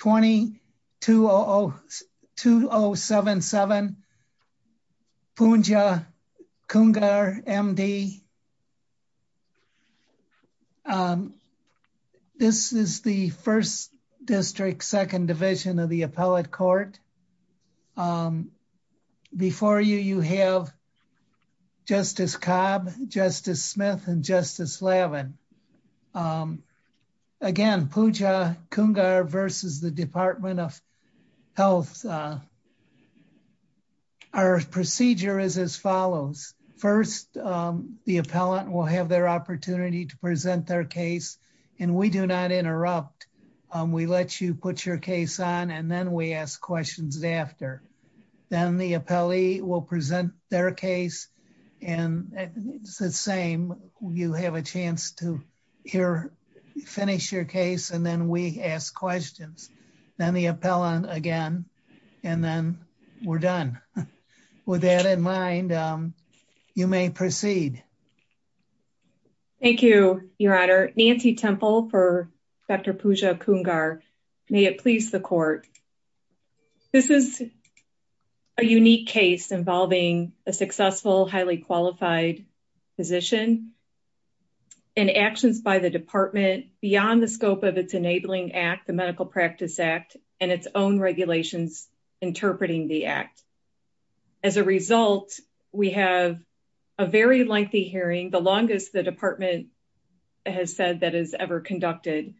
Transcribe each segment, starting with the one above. Poonja Kungar, M.D. This is the 1st District, 2nd Division of the Appellate Court. Before you, you have Justice Cobb, Justice Smith, and Justice Lavin. Again, Poonja Kungar versus the Department of Health. Our procedure is as follows. First, the appellant will have their opportunity to present their case, and we do not interrupt. We let you put your case on, and then we ask questions after. Then the appellee will present their case, and it's the same. You have a chance to finish your case, and then we ask questions. Then the appellant again, and then we're done. With that in mind, you may proceed. Thank you, Your Honor. Nancy Temple for Dr. Poonja Kungar. May it please the court. This is a unique case involving a successful, highly qualified physician, and actions by the department beyond the scope of its enabling act, the Medical Practice Act, and its own regulations interpreting the act. As a result, we have a very lengthy hearing, the longest the department has said that is ever conducted,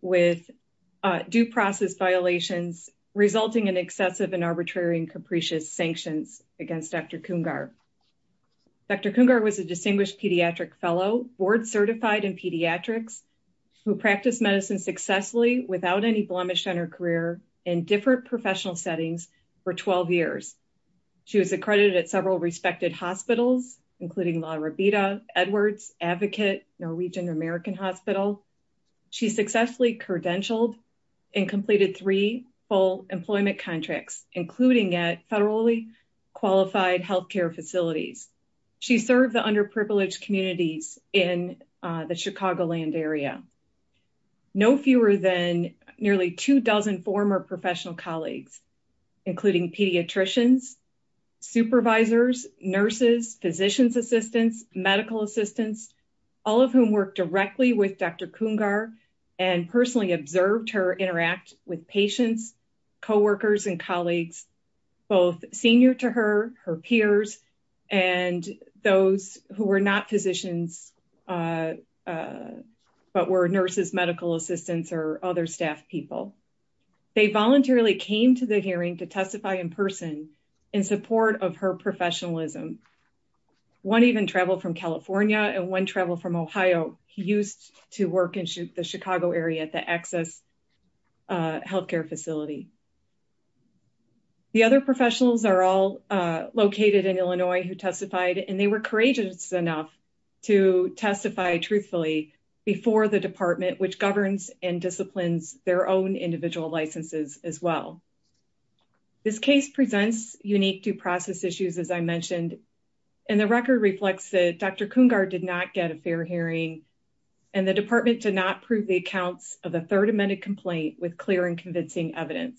with due process violations resulting in excessive and arbitrary and capricious sanctions against Dr. Kungar. Dr. Kungar was a distinguished pediatric fellow, board certified in pediatrics, who practiced medicine successfully without any blemish on her career in different professional settings for 12 years. She was accredited at several respected hospitals, including La Robita, Edwards, Advocate, Norwegian American Hospital. She successfully credentialed and completed three full employment contracts, including at federally qualified healthcare facilities. She served the underprivileged communities in the Chicagoland area. No fewer than nearly two dozen former professional colleagues, including pediatricians, supervisors, nurses, physician's assistants, medical assistants, all of whom worked directly with Dr. Kungar and personally observed her interact with patients, co-workers, and colleagues, both senior to her, her peers, and those who were not physicians but were nurses, medical assistants, or other staff people. They voluntarily came to the hearing to testify in person in support of her professionalism. One even traveled from California, and one traveled from Ohio. He used to work in the The other professionals are all located in Illinois who testified, and they were courageous enough to testify truthfully before the department, which governs and disciplines their own individual licenses as well. This case presents unique due process issues, as I mentioned, and the record reflects that Dr. Kungar did not get a fair hearing, and the department did not prove the accounts of the third amended complaint with clear and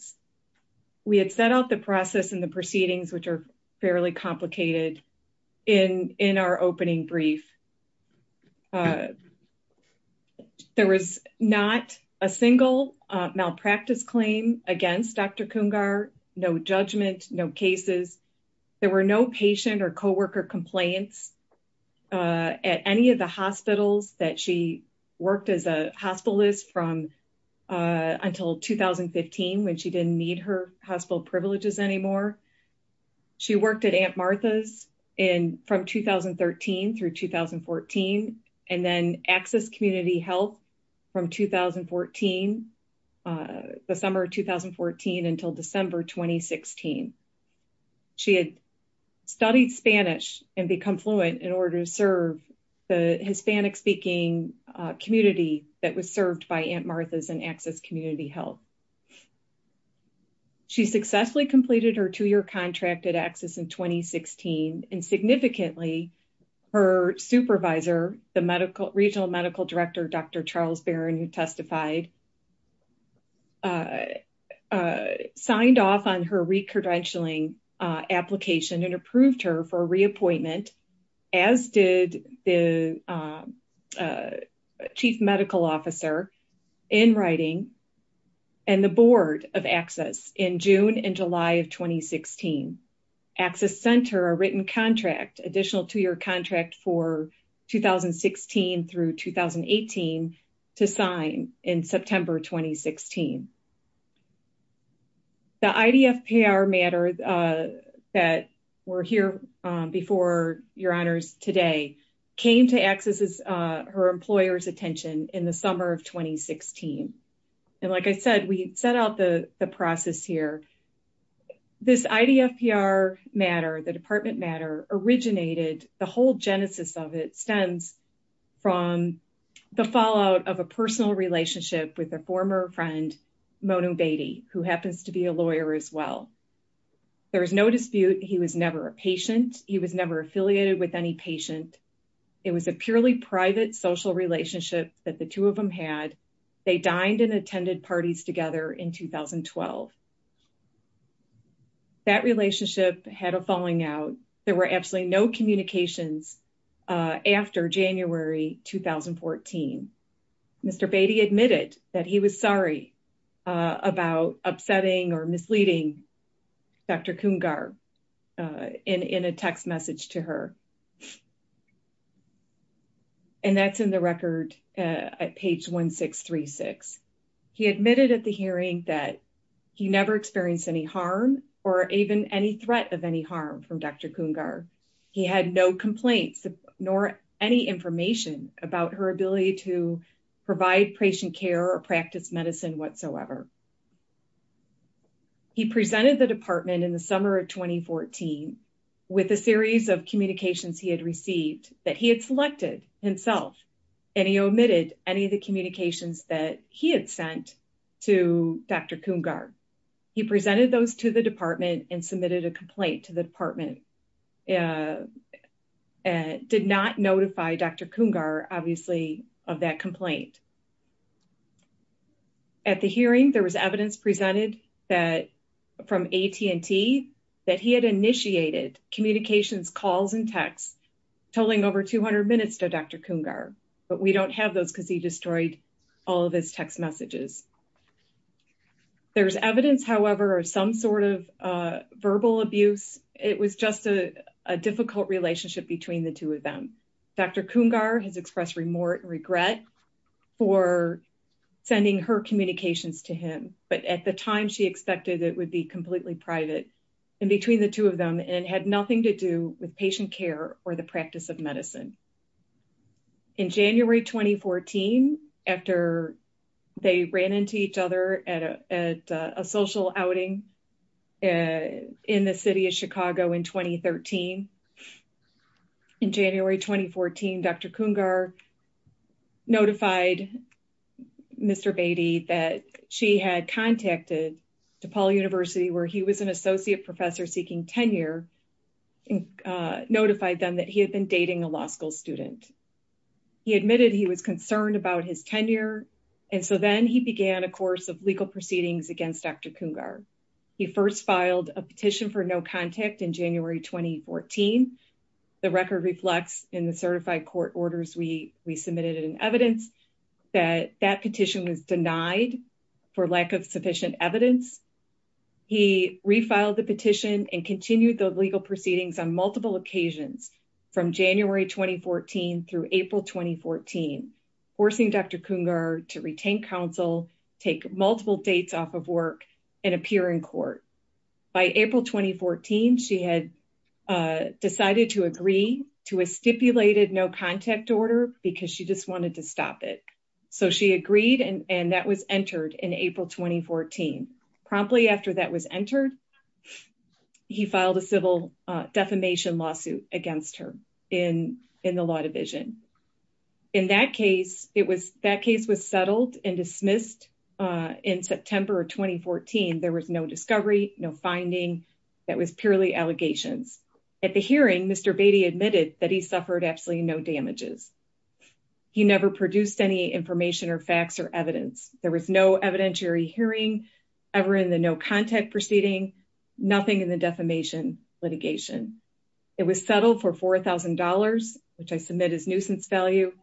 We had set out the process and the proceedings, which are fairly complicated in our opening brief. There was not a single malpractice claim against Dr. Kungar, no judgment, no cases. There were no patient or co-worker complaints at any of the hospitals that she worked as a when she didn't need her hospital privileges anymore. She worked at Aunt Martha's from 2013 through 2014, and then Access Community Health from 2014, the summer of 2014 until December 2016. She had studied Spanish and become fluent in order to serve the Hispanic-speaking community that was served by Aunt Martha's and Access Community Health. She successfully completed her two-year contract at Access in 2016, and significantly, her supervisor, the regional medical director, Dr. Charles Barron, who testified, signed off on her recredentialing application and approved her for a reappointment, as did the chief medical officer, in writing, and the board of Access in June and July of 2016. Access sent her a written contract, additional two-year contract for 2016 through 2018, to sign in September 2016. The IDF PR matter that were here before your honors today came to Access's, her employer's in the summer of 2016. And like I said, we set out the process here. This IDF PR matter, the department matter, originated, the whole genesis of it, stems from the fallout of a personal relationship with a former friend, Monu Bedi, who happens to be a lawyer as well. There was no dispute. He was never a patient. He was never affiliated with any patient. It was a purely private social relationship that the two of them had. They dined and attended parties together in 2012. That relationship had a falling out. There were absolutely no communications after January 2014. Mr. Bedi admitted that he was sorry about upsetting or misleading Dr. Coongar in a text message to her. And that's in the record at page 1636. He admitted at the hearing that he never experienced any harm or even any threat of any harm from Dr. Coongar. He had no complaints nor any information about her ability to provide patient care or practice medicine whatsoever. He presented the department in the summer of 2014 with a series of communications he had received that he had selected himself. And he omitted any of the communications that he had sent to Dr. Coongar. He presented those to the department and submitted a complaint to the department. He did not notify Dr. Coongar, obviously, of that complaint. At the hearing, there was evidence presented from AT&T that he had initiated communications calls and texts totaling over 200 minutes to Dr. Coongar. But we don't have those because he destroyed all of his text messages. There's evidence, however, of some sort of a difficult relationship between the two of them. Dr. Coongar has expressed remorse and regret for sending her communications to him. But at the time, she expected it would be completely private in between the two of them and had nothing to do with patient care or the practice of medicine. In January 2014, after they ran into each other at a social outing in the city of Chicago in 2013, in January 2014, Dr. Coongar notified Mr. Beatty that she had contacted DePaul University where he was an associate professor seeking tenure and notified them that he had been dating a law school student. He admitted he was concerned about his tenure. And so then he began a course of legal proceedings against Dr. Coongar. He first filed a petition for no contact in January 2014. The record reflects in the certified court orders we submitted in evidence that that petition was denied for lack of sufficient evidence. He refiled the petition and continued the legal proceedings on multiple occasions from January 2014 through April 2014, forcing Dr. Coongar to retain counsel, take multiple dates off of work and appear in court. By April 2014, she had decided to agree to a stipulated no contact order because she just wanted to stop it. So she agreed and that was entered in April 2014. Promptly after that was entered, he filed a civil defamation lawsuit against her in the law division. In that case, that case was settled and dismissed in September of 2014. There was no discovery, no finding. That was purely allegations. At the hearing, Mr. Beatty admitted that he suffered absolutely no damages. He never produced any information or facts or evidence. There was no evidentiary hearing ever in the no contact proceeding, nothing in the defamation litigation. It was settled for $4,000, which I submit as nuisance value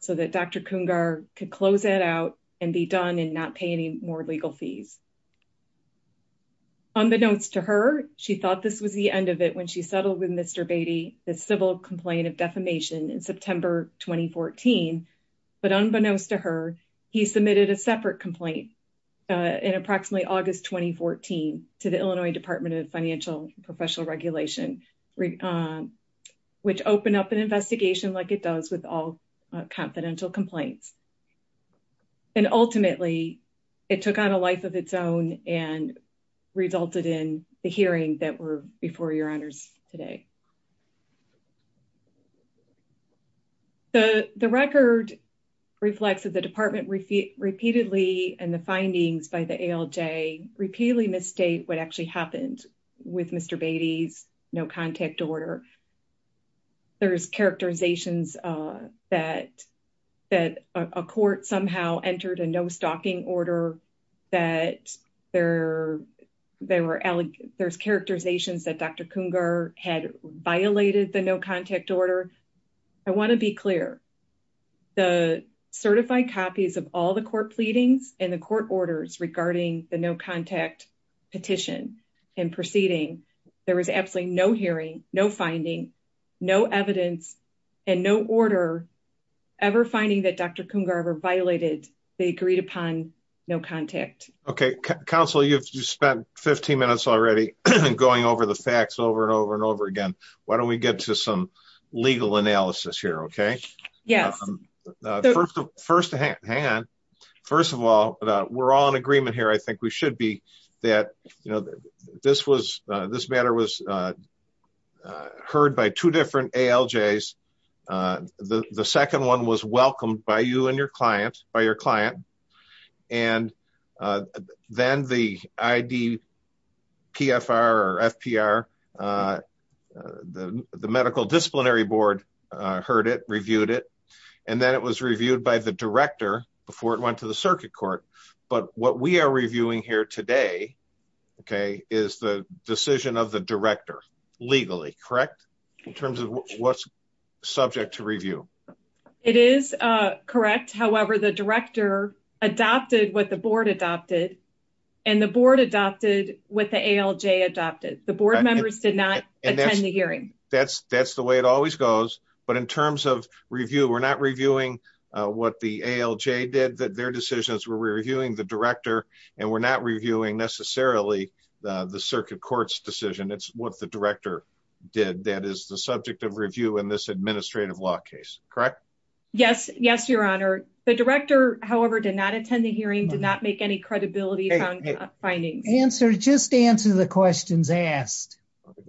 so that Dr. Coongar could close that out and be done and not pay any more legal fees. Unbeknownst to her, she thought this was the end of it when she settled with Mr. Beatty, the civil complaint of defamation in September 2014. But unbeknownst to her, he submitted a to the Illinois Department of Financial and Professional Regulation, which opened up an investigation like it does with all confidential complaints. And ultimately, it took on a life of its own and resulted in the hearing that were before your honors today. The record reflects that the department repeatedly and the findings by the ALJ repeatedly misstate what actually happened with Mr. Beatty's no contact order. There's characterizations that a court somehow entered a no stalking order, that there's characterizations that Dr. Coongar had violated the no contact order. I want to be clear. The certified copies of all the court pleadings and the court orders regarding the no contact petition and proceeding, there was absolutely no hearing, no finding, no evidence, and no order ever finding that Dr. Coongar ever violated the agreed upon no contact. Okay. Counsel, you've spent 15 minutes already going over the facts over and over and over again. Why don't we get to some legal analysis here? Okay. First of all, we're all in agreement here. I think we should be. This matter was heard by two different ALJs. The second one was welcomed by you and your client, by your client. Then the IDPFR or FPR, the medical disciplinary board heard it, reviewed it. Then it was reviewed by the director before it went to the circuit court. But what we are reviewing here today, okay, is the decision of the director legally, correct? In terms of what's subject to review. It is correct. However, the director adopted what the board adopted and the board adopted what the ALJ adopted. The board members did not attend the hearing. That's the way it always goes. But in terms of review, we're not reviewing what the ALJ did, their decisions. We're reviewing the director and we're not reviewing necessarily the circuit court's decision. It's what the director did. That is the subject of review in this administrative law case, correct? Yes. Yes, your honor. The director, however, did not attend the hearing, did not make any credibility findings. Answer, just answer the questions asked.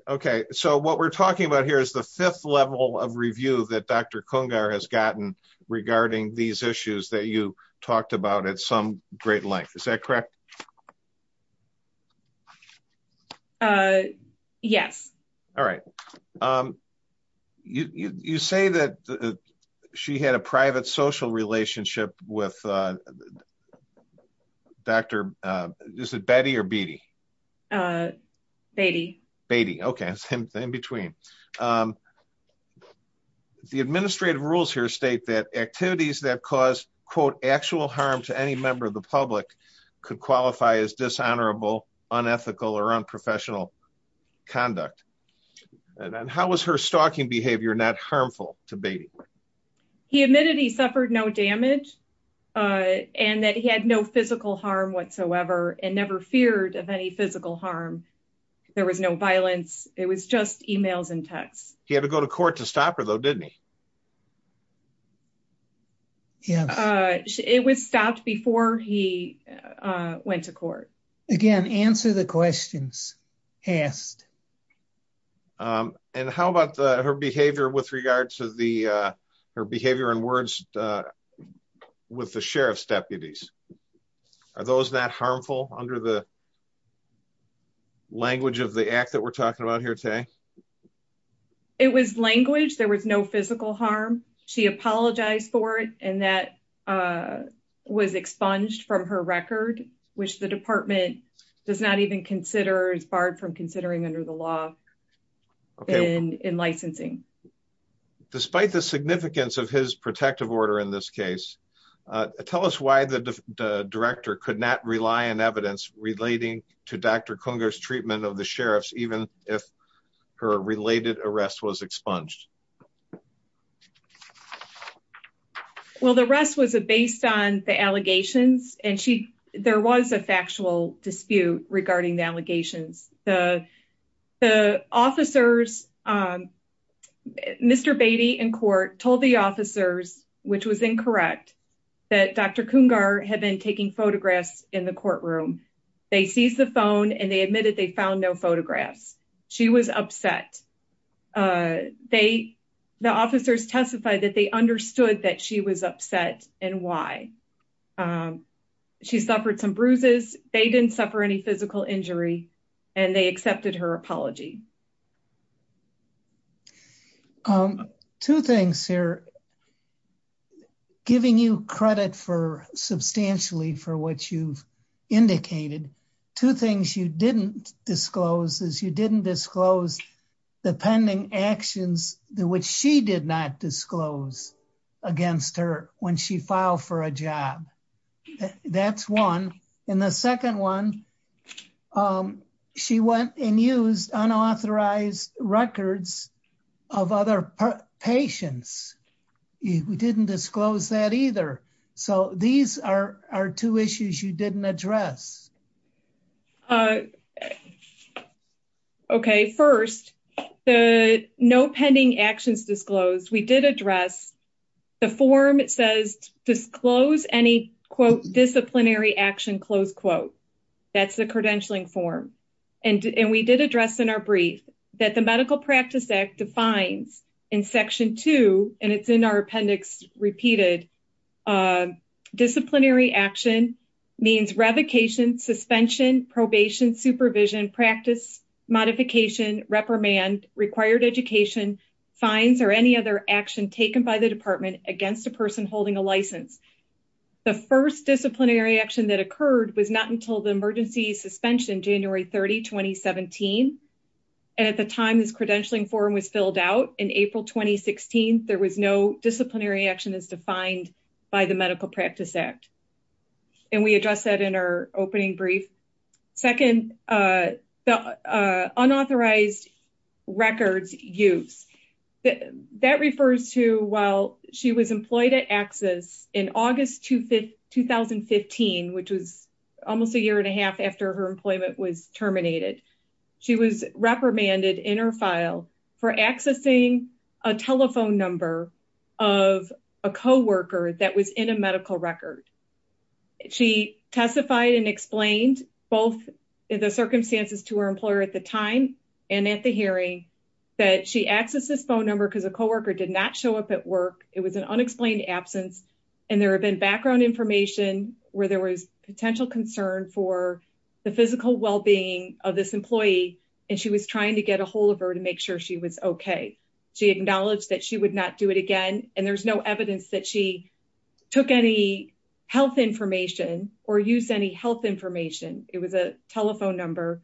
Okay. So what we're talking about here is the fifth level of review that Dr. Kungar has gotten regarding these issues that you talked about at some great length. Is that correct? Yes. All right. You say that she had a private social relationship with Dr. is it Betty or Beatty? Beatty. Beatty. Okay. It's in between. The administrative rules here state that activities that cause quote actual harm to any member of the unethical or unprofessional conduct. And how was her stalking behavior not harmful to Beatty? He admitted he suffered no damage and that he had no physical harm whatsoever and never feared of any physical harm. There was no violence. It was just emails and texts. He had to go to court to answer the questions asked. And how about her behavior with regards to her behavior and words with the sheriff's deputies? Are those not harmful under the language of the act that we're talking about here today? It was language. There was no physical harm. She apologized for it and that was expunged from her record which the department does not even consider is barred from considering under the law in licensing. Despite the significance of his protective order in this case, tell us why the director could not rely on evidence relating to Dr. Kungar's treatment of the sheriffs even if her related arrest was expunged. Well, the rest was based on the allegations and there was a factual dispute regarding the allegations. The officers, Mr. Beatty in court told the officers, which was incorrect, that Dr. Kungar had been taking photographs in the courtroom. They seized the phone and they the officers testified that they understood that she was upset and why. She suffered some bruises. They didn't suffer any physical injury and they accepted her apology. Two things here, giving you credit for substantially for what you've indicated, two things you didn't disclose is you didn't disclose the pending actions which she did not disclose against her when she filed for a job. That's one. And the second one, she went and used unauthorized records of other patients. You didn't disclose that either. So these are two issues you didn't address. Okay. First, the no pending actions disclosed. We did address the form. It says, disclose any quote disciplinary action, close quote. That's the credentialing form. And we did address in our brief that the medical practice act defines in section two, and it's in our disciplinary action means revocation, suspension, probation, supervision, practice, modification, reprimand, required education, fines, or any other action taken by the department against a person holding a license. The first disciplinary action that occurred was not until the emergency suspension, January 30, 2017. And at the time this credentialing form was filled out in April, 2016, there was no disciplinary action as defined by the medical practice act. And we addressed that in our opening brief. Second, unauthorized records use. That refers to while she was employed at access in August, 2015, which was almost a year and a half after her a telephone number of a coworker that was in a medical record. She testified and explained both in the circumstances to her employer at the time and at the hearing that she accessed this phone number because a coworker did not show up at work. It was an unexplained absence. And there have been background information where there was potential concern for the physical wellbeing of this employee. And she was trying to get ahold of her to make sure she was okay. She acknowledged that she would not do it again. And there's no evidence that she took any health information or use any health information. It was a telephone number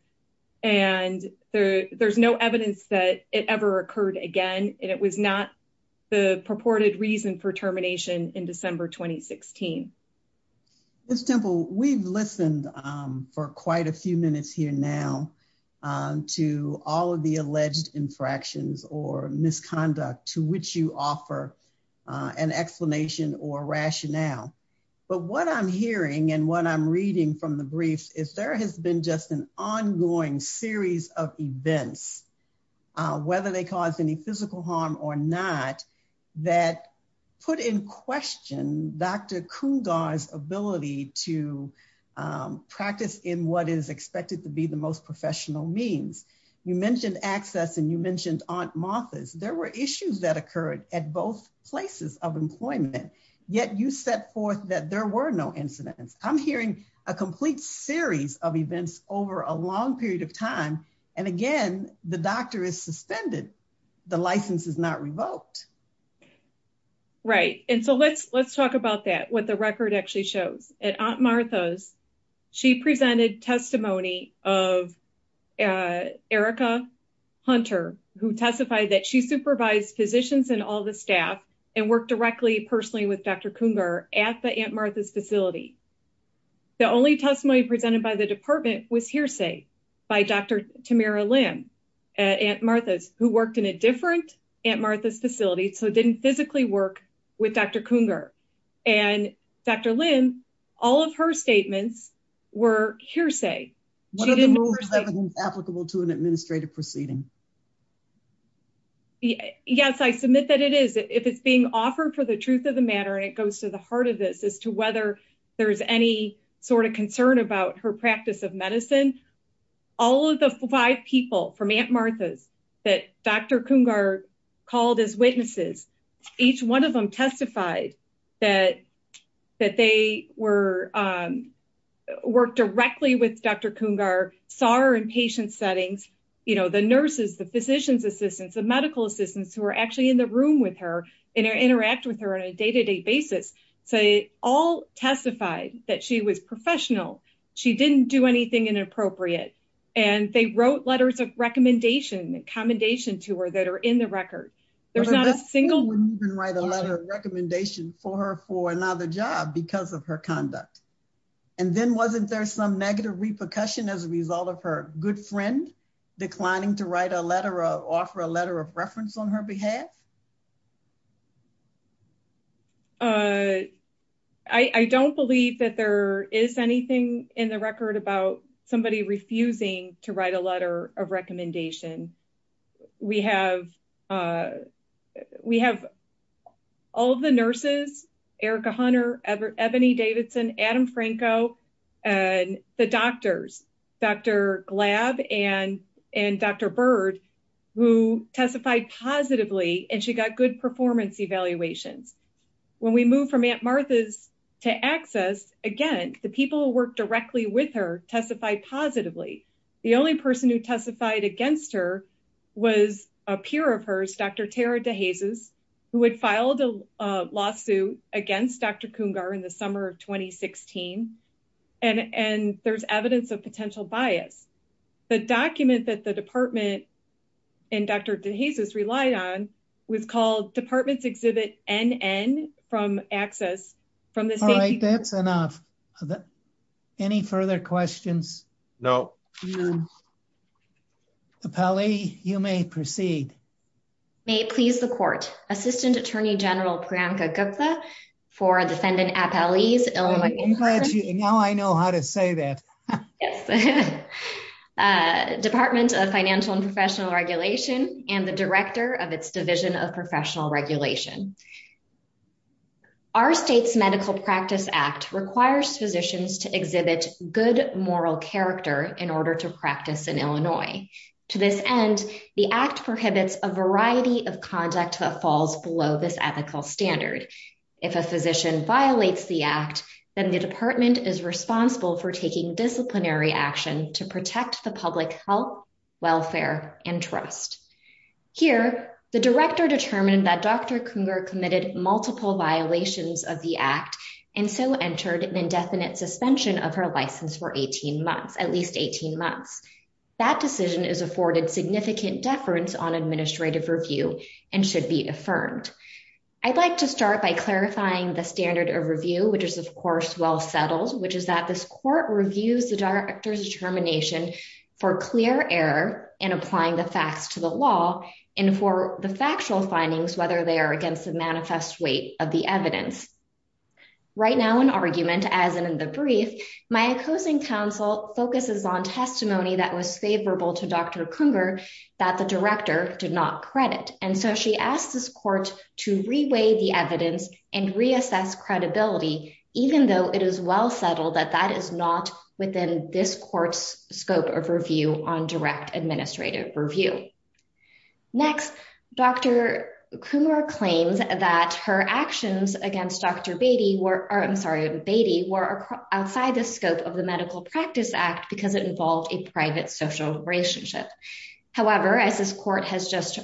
and there there's no evidence that it ever occurred again. And it was not the purported reason for termination in December, 2016. Ms. Temple, we've listened for quite a few minutes here now to all of the alleged infractions or misconduct to which you offer an explanation or rationale. But what I'm hearing and what I'm reading from the brief is there has been just an ongoing series of events, whether they cause any physical harm or not, that put in question Dr. Coongar's ability to practice in what is expected to be the most professional means. You mentioned access and you mentioned Aunt Martha's. There were issues that occurred at both places of employment, yet you set forth that there were no incidents. I'm hearing a complete series of events over a doctor is suspended, the license is not revoked. Right. And so let's talk about that, what the record actually shows. At Aunt Martha's, she presented testimony of Erica Hunter, who testified that she supervised physicians and all the staff and worked directly personally with Dr. Coongar at the Aunt Martha's facility. The only testimony presented by the department was hearsay by Dr. Lim at Aunt Martha's, who worked in a different Aunt Martha's facility, so didn't physically work with Dr. Coongar. And Dr. Lim, all of her statements were hearsay. What are the rules of evidence applicable to an administrative proceeding? Yes, I submit that it is. If it's being offered for the truth of the matter, and it goes to the heart of this as to whether there's any sort of concern about her practice of medicine, all of the five people from Aunt Martha's that Dr. Coongar called as witnesses, each one of them testified that they worked directly with Dr. Coongar, saw her in patient settings. The nurses, the physician's assistants, the medical assistants who were actually in the room with her and interact with her on a day-to-day basis, they all testified that she was professional. She didn't do anything inappropriate. And they wrote letters of recommendation and commendation to her that are in the record. There's not a single... But Dr. Coongar wouldn't even write a letter of recommendation for her for another job because of her conduct. And then wasn't there some negative repercussion as a result of her good friend declining to write a letter or offer a letter of reference on her behalf? I don't believe that there is anything in the record about somebody refusing to write a letter of recommendation. We have all of the nurses, Erica Hunter, Ebony Davidson, Adam Franco, and the doctors, Dr. Glab and Dr. Bird, who testified positively and she got good performance evaluations. When we move from Aunt Martha's to ACCESS, again, the people who worked directly with her testified positively. The only person who testified against her was a peer of hers, Dr. Tara DeJesus, who had filed a lawsuit against Dr. Coongar in the summer of 2016. And there's evidence of potential bias. The document that the department and Dr. DeJesus relied on was called Department's Exhibit NN from ACCESS. All right, that's enough. Are there any further questions? No. Appellee, you may proceed. May it please the court, Assistant Attorney General Priyanka Gupta for Defendant Appellee's Illinois- Now I know how to say that. Yes. Department of Financial and Professional Regulation and the Director of its Division of Professional Regulation. Our state's Medical Practice Act requires physicians to exhibit good moral character in order to practice in Illinois. To this end, the act prohibits a variety of conduct that falls below this ethical standard. If a physician violates the act, then the department is responsible for taking disciplinary action to protect the public health, welfare and trust. Here, the director determined that Dr. Coongar committed multiple violations of the act and so entered an indefinite suspension of her license for 18 months, at least 18 months. That decision is afforded significant deference on administrative review and should be affirmed. I'd like to start by clarifying the standard of review, which is of course well settled, which is that this court reviews the director's determination for clear error in applying the facts to the law and for the factual findings, whether they are against the manifest weight of the evidence. Right now in argument, as in the brief, my opposing counsel focuses on testimony that was favorable to Dr. Coongar that the director did not credit. And so she asked this that that is not within this court's scope of review on direct administrative review. Next, Dr. Coongar claims that her actions against Dr. Beatty were, I'm sorry, Beatty were outside the scope of the Medical Practice Act because it involved a private social relationship. However, as this court has just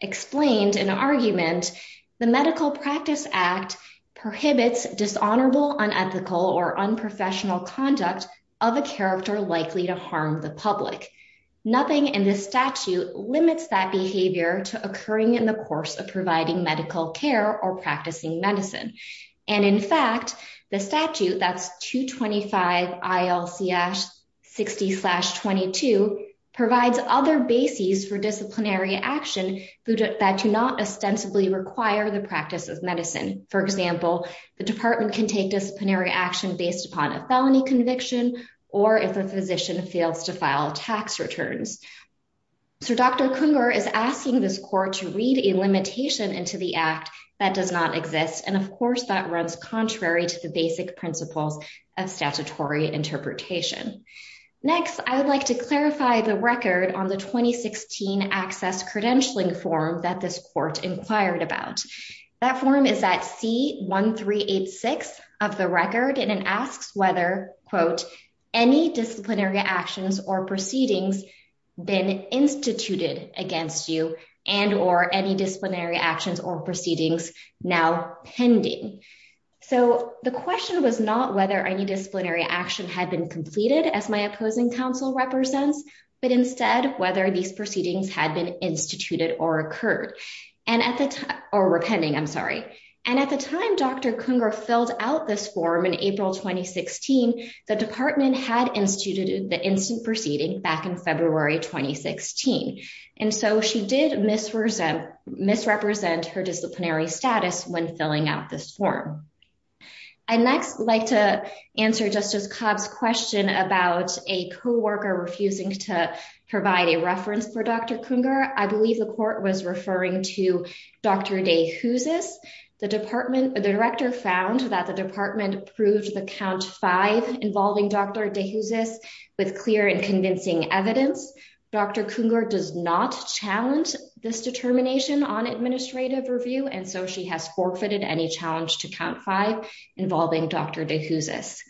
explained in argument, the Medical Practice Act prohibits dishonorable, unethical or unprofessional conduct of a character likely to harm the public. Nothing in this statute limits that behavior to occurring in the course of providing medical care or practicing medicine. And in fact, the statute that's 225 ILC 60 slash 22 provides other bases for disciplinary action that do not ostensibly require the practice of medicine. For example, the department can take disciplinary action based upon a felony conviction, or if a physician fails to file tax returns. So Dr. Coongar is asking this court to read a limitation into the act that does not exist. And of course, that runs contrary to the basic principles of statutory interpretation. Next, I would like to clarify the record on the 2016 access credentialing form that this court inquired about. That form is that C 1386 of the record and asks whether quote, any disciplinary actions or proceedings been instituted against you and or any disciplinary actions or proceedings now pending. So the question was not whether any disciplinary action had been completed as my opposing counsel represents, but instead whether these proceedings had been instituted or occurred. And at the time, or repenting, I'm sorry. And at the time, Dr. Coongar filled out this form in April 2016, the department had instituted the instant proceeding back in February 2016. And so she did misrepresent misrepresent her disciplinary status when filling out this form. I next like to answer Justice Cobb's question about a co worker refusing to provide a reference for Dr. Coongar. I believe the court was referring to Dr. Day who's is the department, the director found that the department approved the count five involving Dr. Day who's is with clear and convincing evidence. Dr. Coongar does not challenge this determination on administrative review. And so she has forfeited any challenge to count five involving Dr. Day who's is.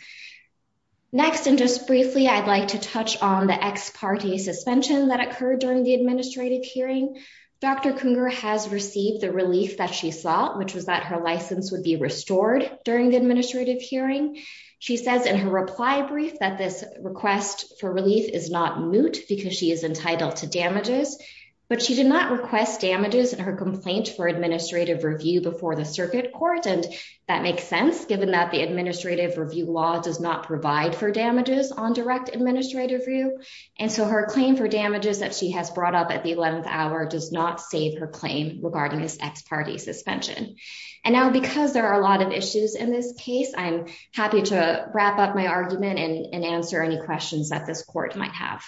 Next, and just briefly, I'd like to touch on the ex parte suspension that occurred during the administrative hearing. Dr. Coongar has received the relief that she saw, which was that her license would be restored during the administrative hearing. She says in her reply brief that this request for relief is not moot because she is entitled to damages. But she did not request damages and her complaint for administrative review before the circuit court. And that makes sense given that the administrative review law does not provide for damages on direct administrative review. And so her claim for damages that she has brought up at the 11th hour does not save her claim regarding this ex parte suspension. And now because there are a lot of issues in this case, I'm happy to wrap up my argument and answer any questions that this court might have.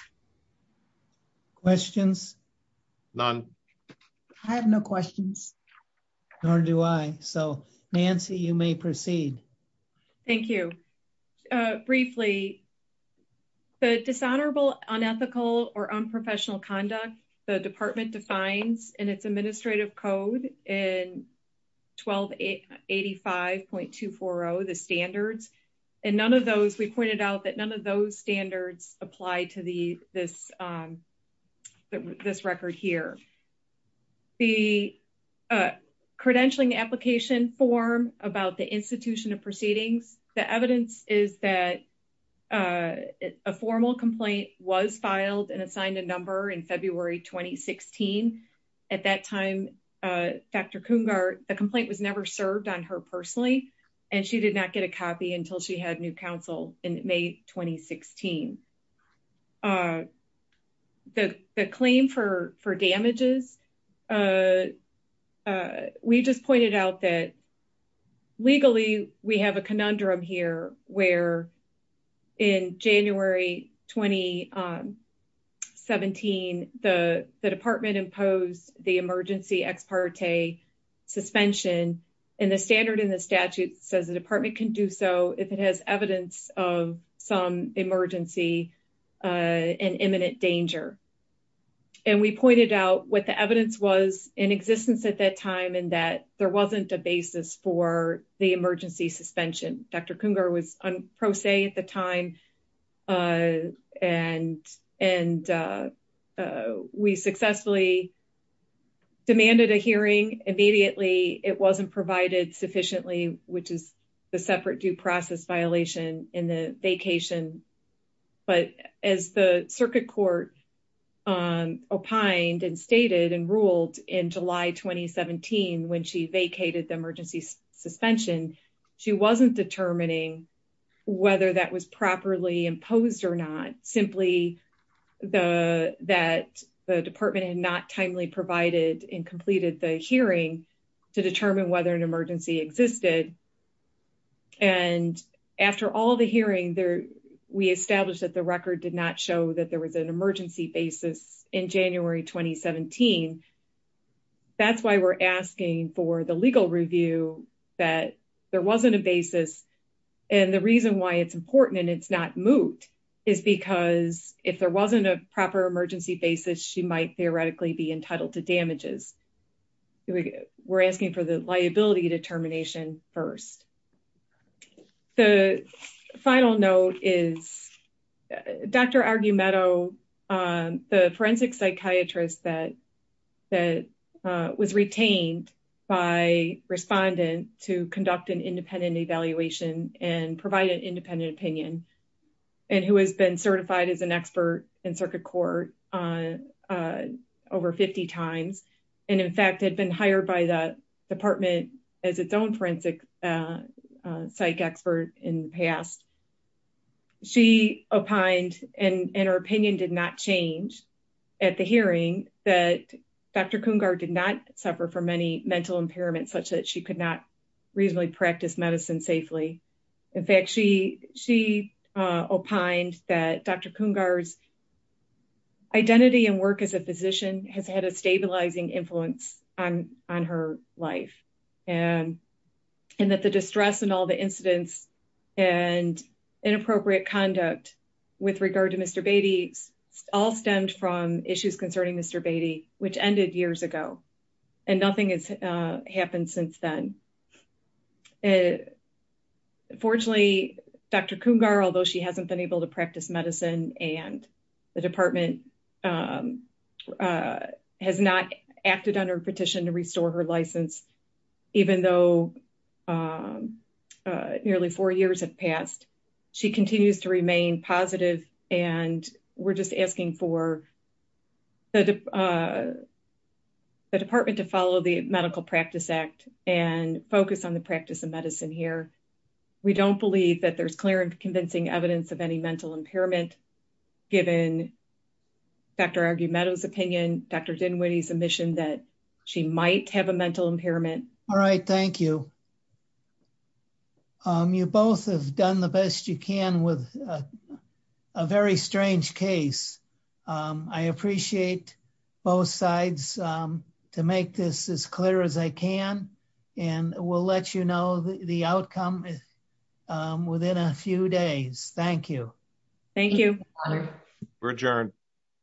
Questions? None. I have no questions. Nor do I. So Nancy, you may proceed. Thank you. Briefly, the dishonorable, unethical, or unprofessional conduct the department defines in its administrative code in 1285.240, the standards, and none of those, we pointed out none of those standards apply to this record here. The credentialing application form about the institution of proceedings, the evidence is that a formal complaint was filed and assigned a number in February 2016. At that time, Dr. Coongar, the complaint was never served on her 2016. The claim for damages, we just pointed out that legally, we have a conundrum here where in January 2017, the department imposed the emergency ex parte suspension. And the standard in the statute says the department can do so if it has evidence of some emergency and imminent danger. And we pointed out what the evidence was in existence at that time, and that there wasn't a basis for the emergency suspension. Dr. Coongar was on pro se at the time. And we successfully demanded a hearing immediately. It wasn't provided sufficiently, which is the separate due process violation in the vacation. But as the circuit court opined and stated and ruled in July 2017, when she vacated the emergency suspension, she wasn't determining whether that was properly timely provided and completed the hearing to determine whether an emergency existed. And after all the hearing there, we established that the record did not show that there was an emergency basis in January 2017. That's why we're asking for the legal review that there wasn't a basis. And the reason why it's important and it's not moot is because if there wasn't a proper emergency basis, she might theoretically be entitled to damages. We're asking for the liability determination first. The final note is Dr. Argumento, the forensic psychiatrist that was retained by respondent to conduct an independent evaluation and provide an on over 50 times. And in fact, had been hired by the department as its own forensic psych expert in the past. She opined and her opinion did not change at the hearing that Dr. Coongar did not suffer from any mental impairment such that she could not reasonably practice medicine safely. In fact, she opined that Dr. Coongar's identity and work as a physician has had a stabilizing influence on her life and that the distress and all the incidents and inappropriate conduct with regard to Mr. Beatty all stemmed from issues concerning Mr. Beatty, which ended years ago and nothing has happened since then. Fortunately, Dr. Coongar, although she hasn't been able to practice medicine and the department has not acted on her petition to restore her license, even though nearly four years have passed, she continues to remain positive. And we're just asking for the department to follow the medical practice act and focus on the practice of medicine here. We don't believe that there's clear and convincing evidence of any mental impairment given Dr. Argumento's opinion, Dr. Dinwiddie's admission that she might have a mental impairment. All right. Thank you. You both have done the best you can with a very strange case. I appreciate both sides to make this as clear as I can and we'll let you know the outcome within a few days. Thank you. Thank you. We're adjourned.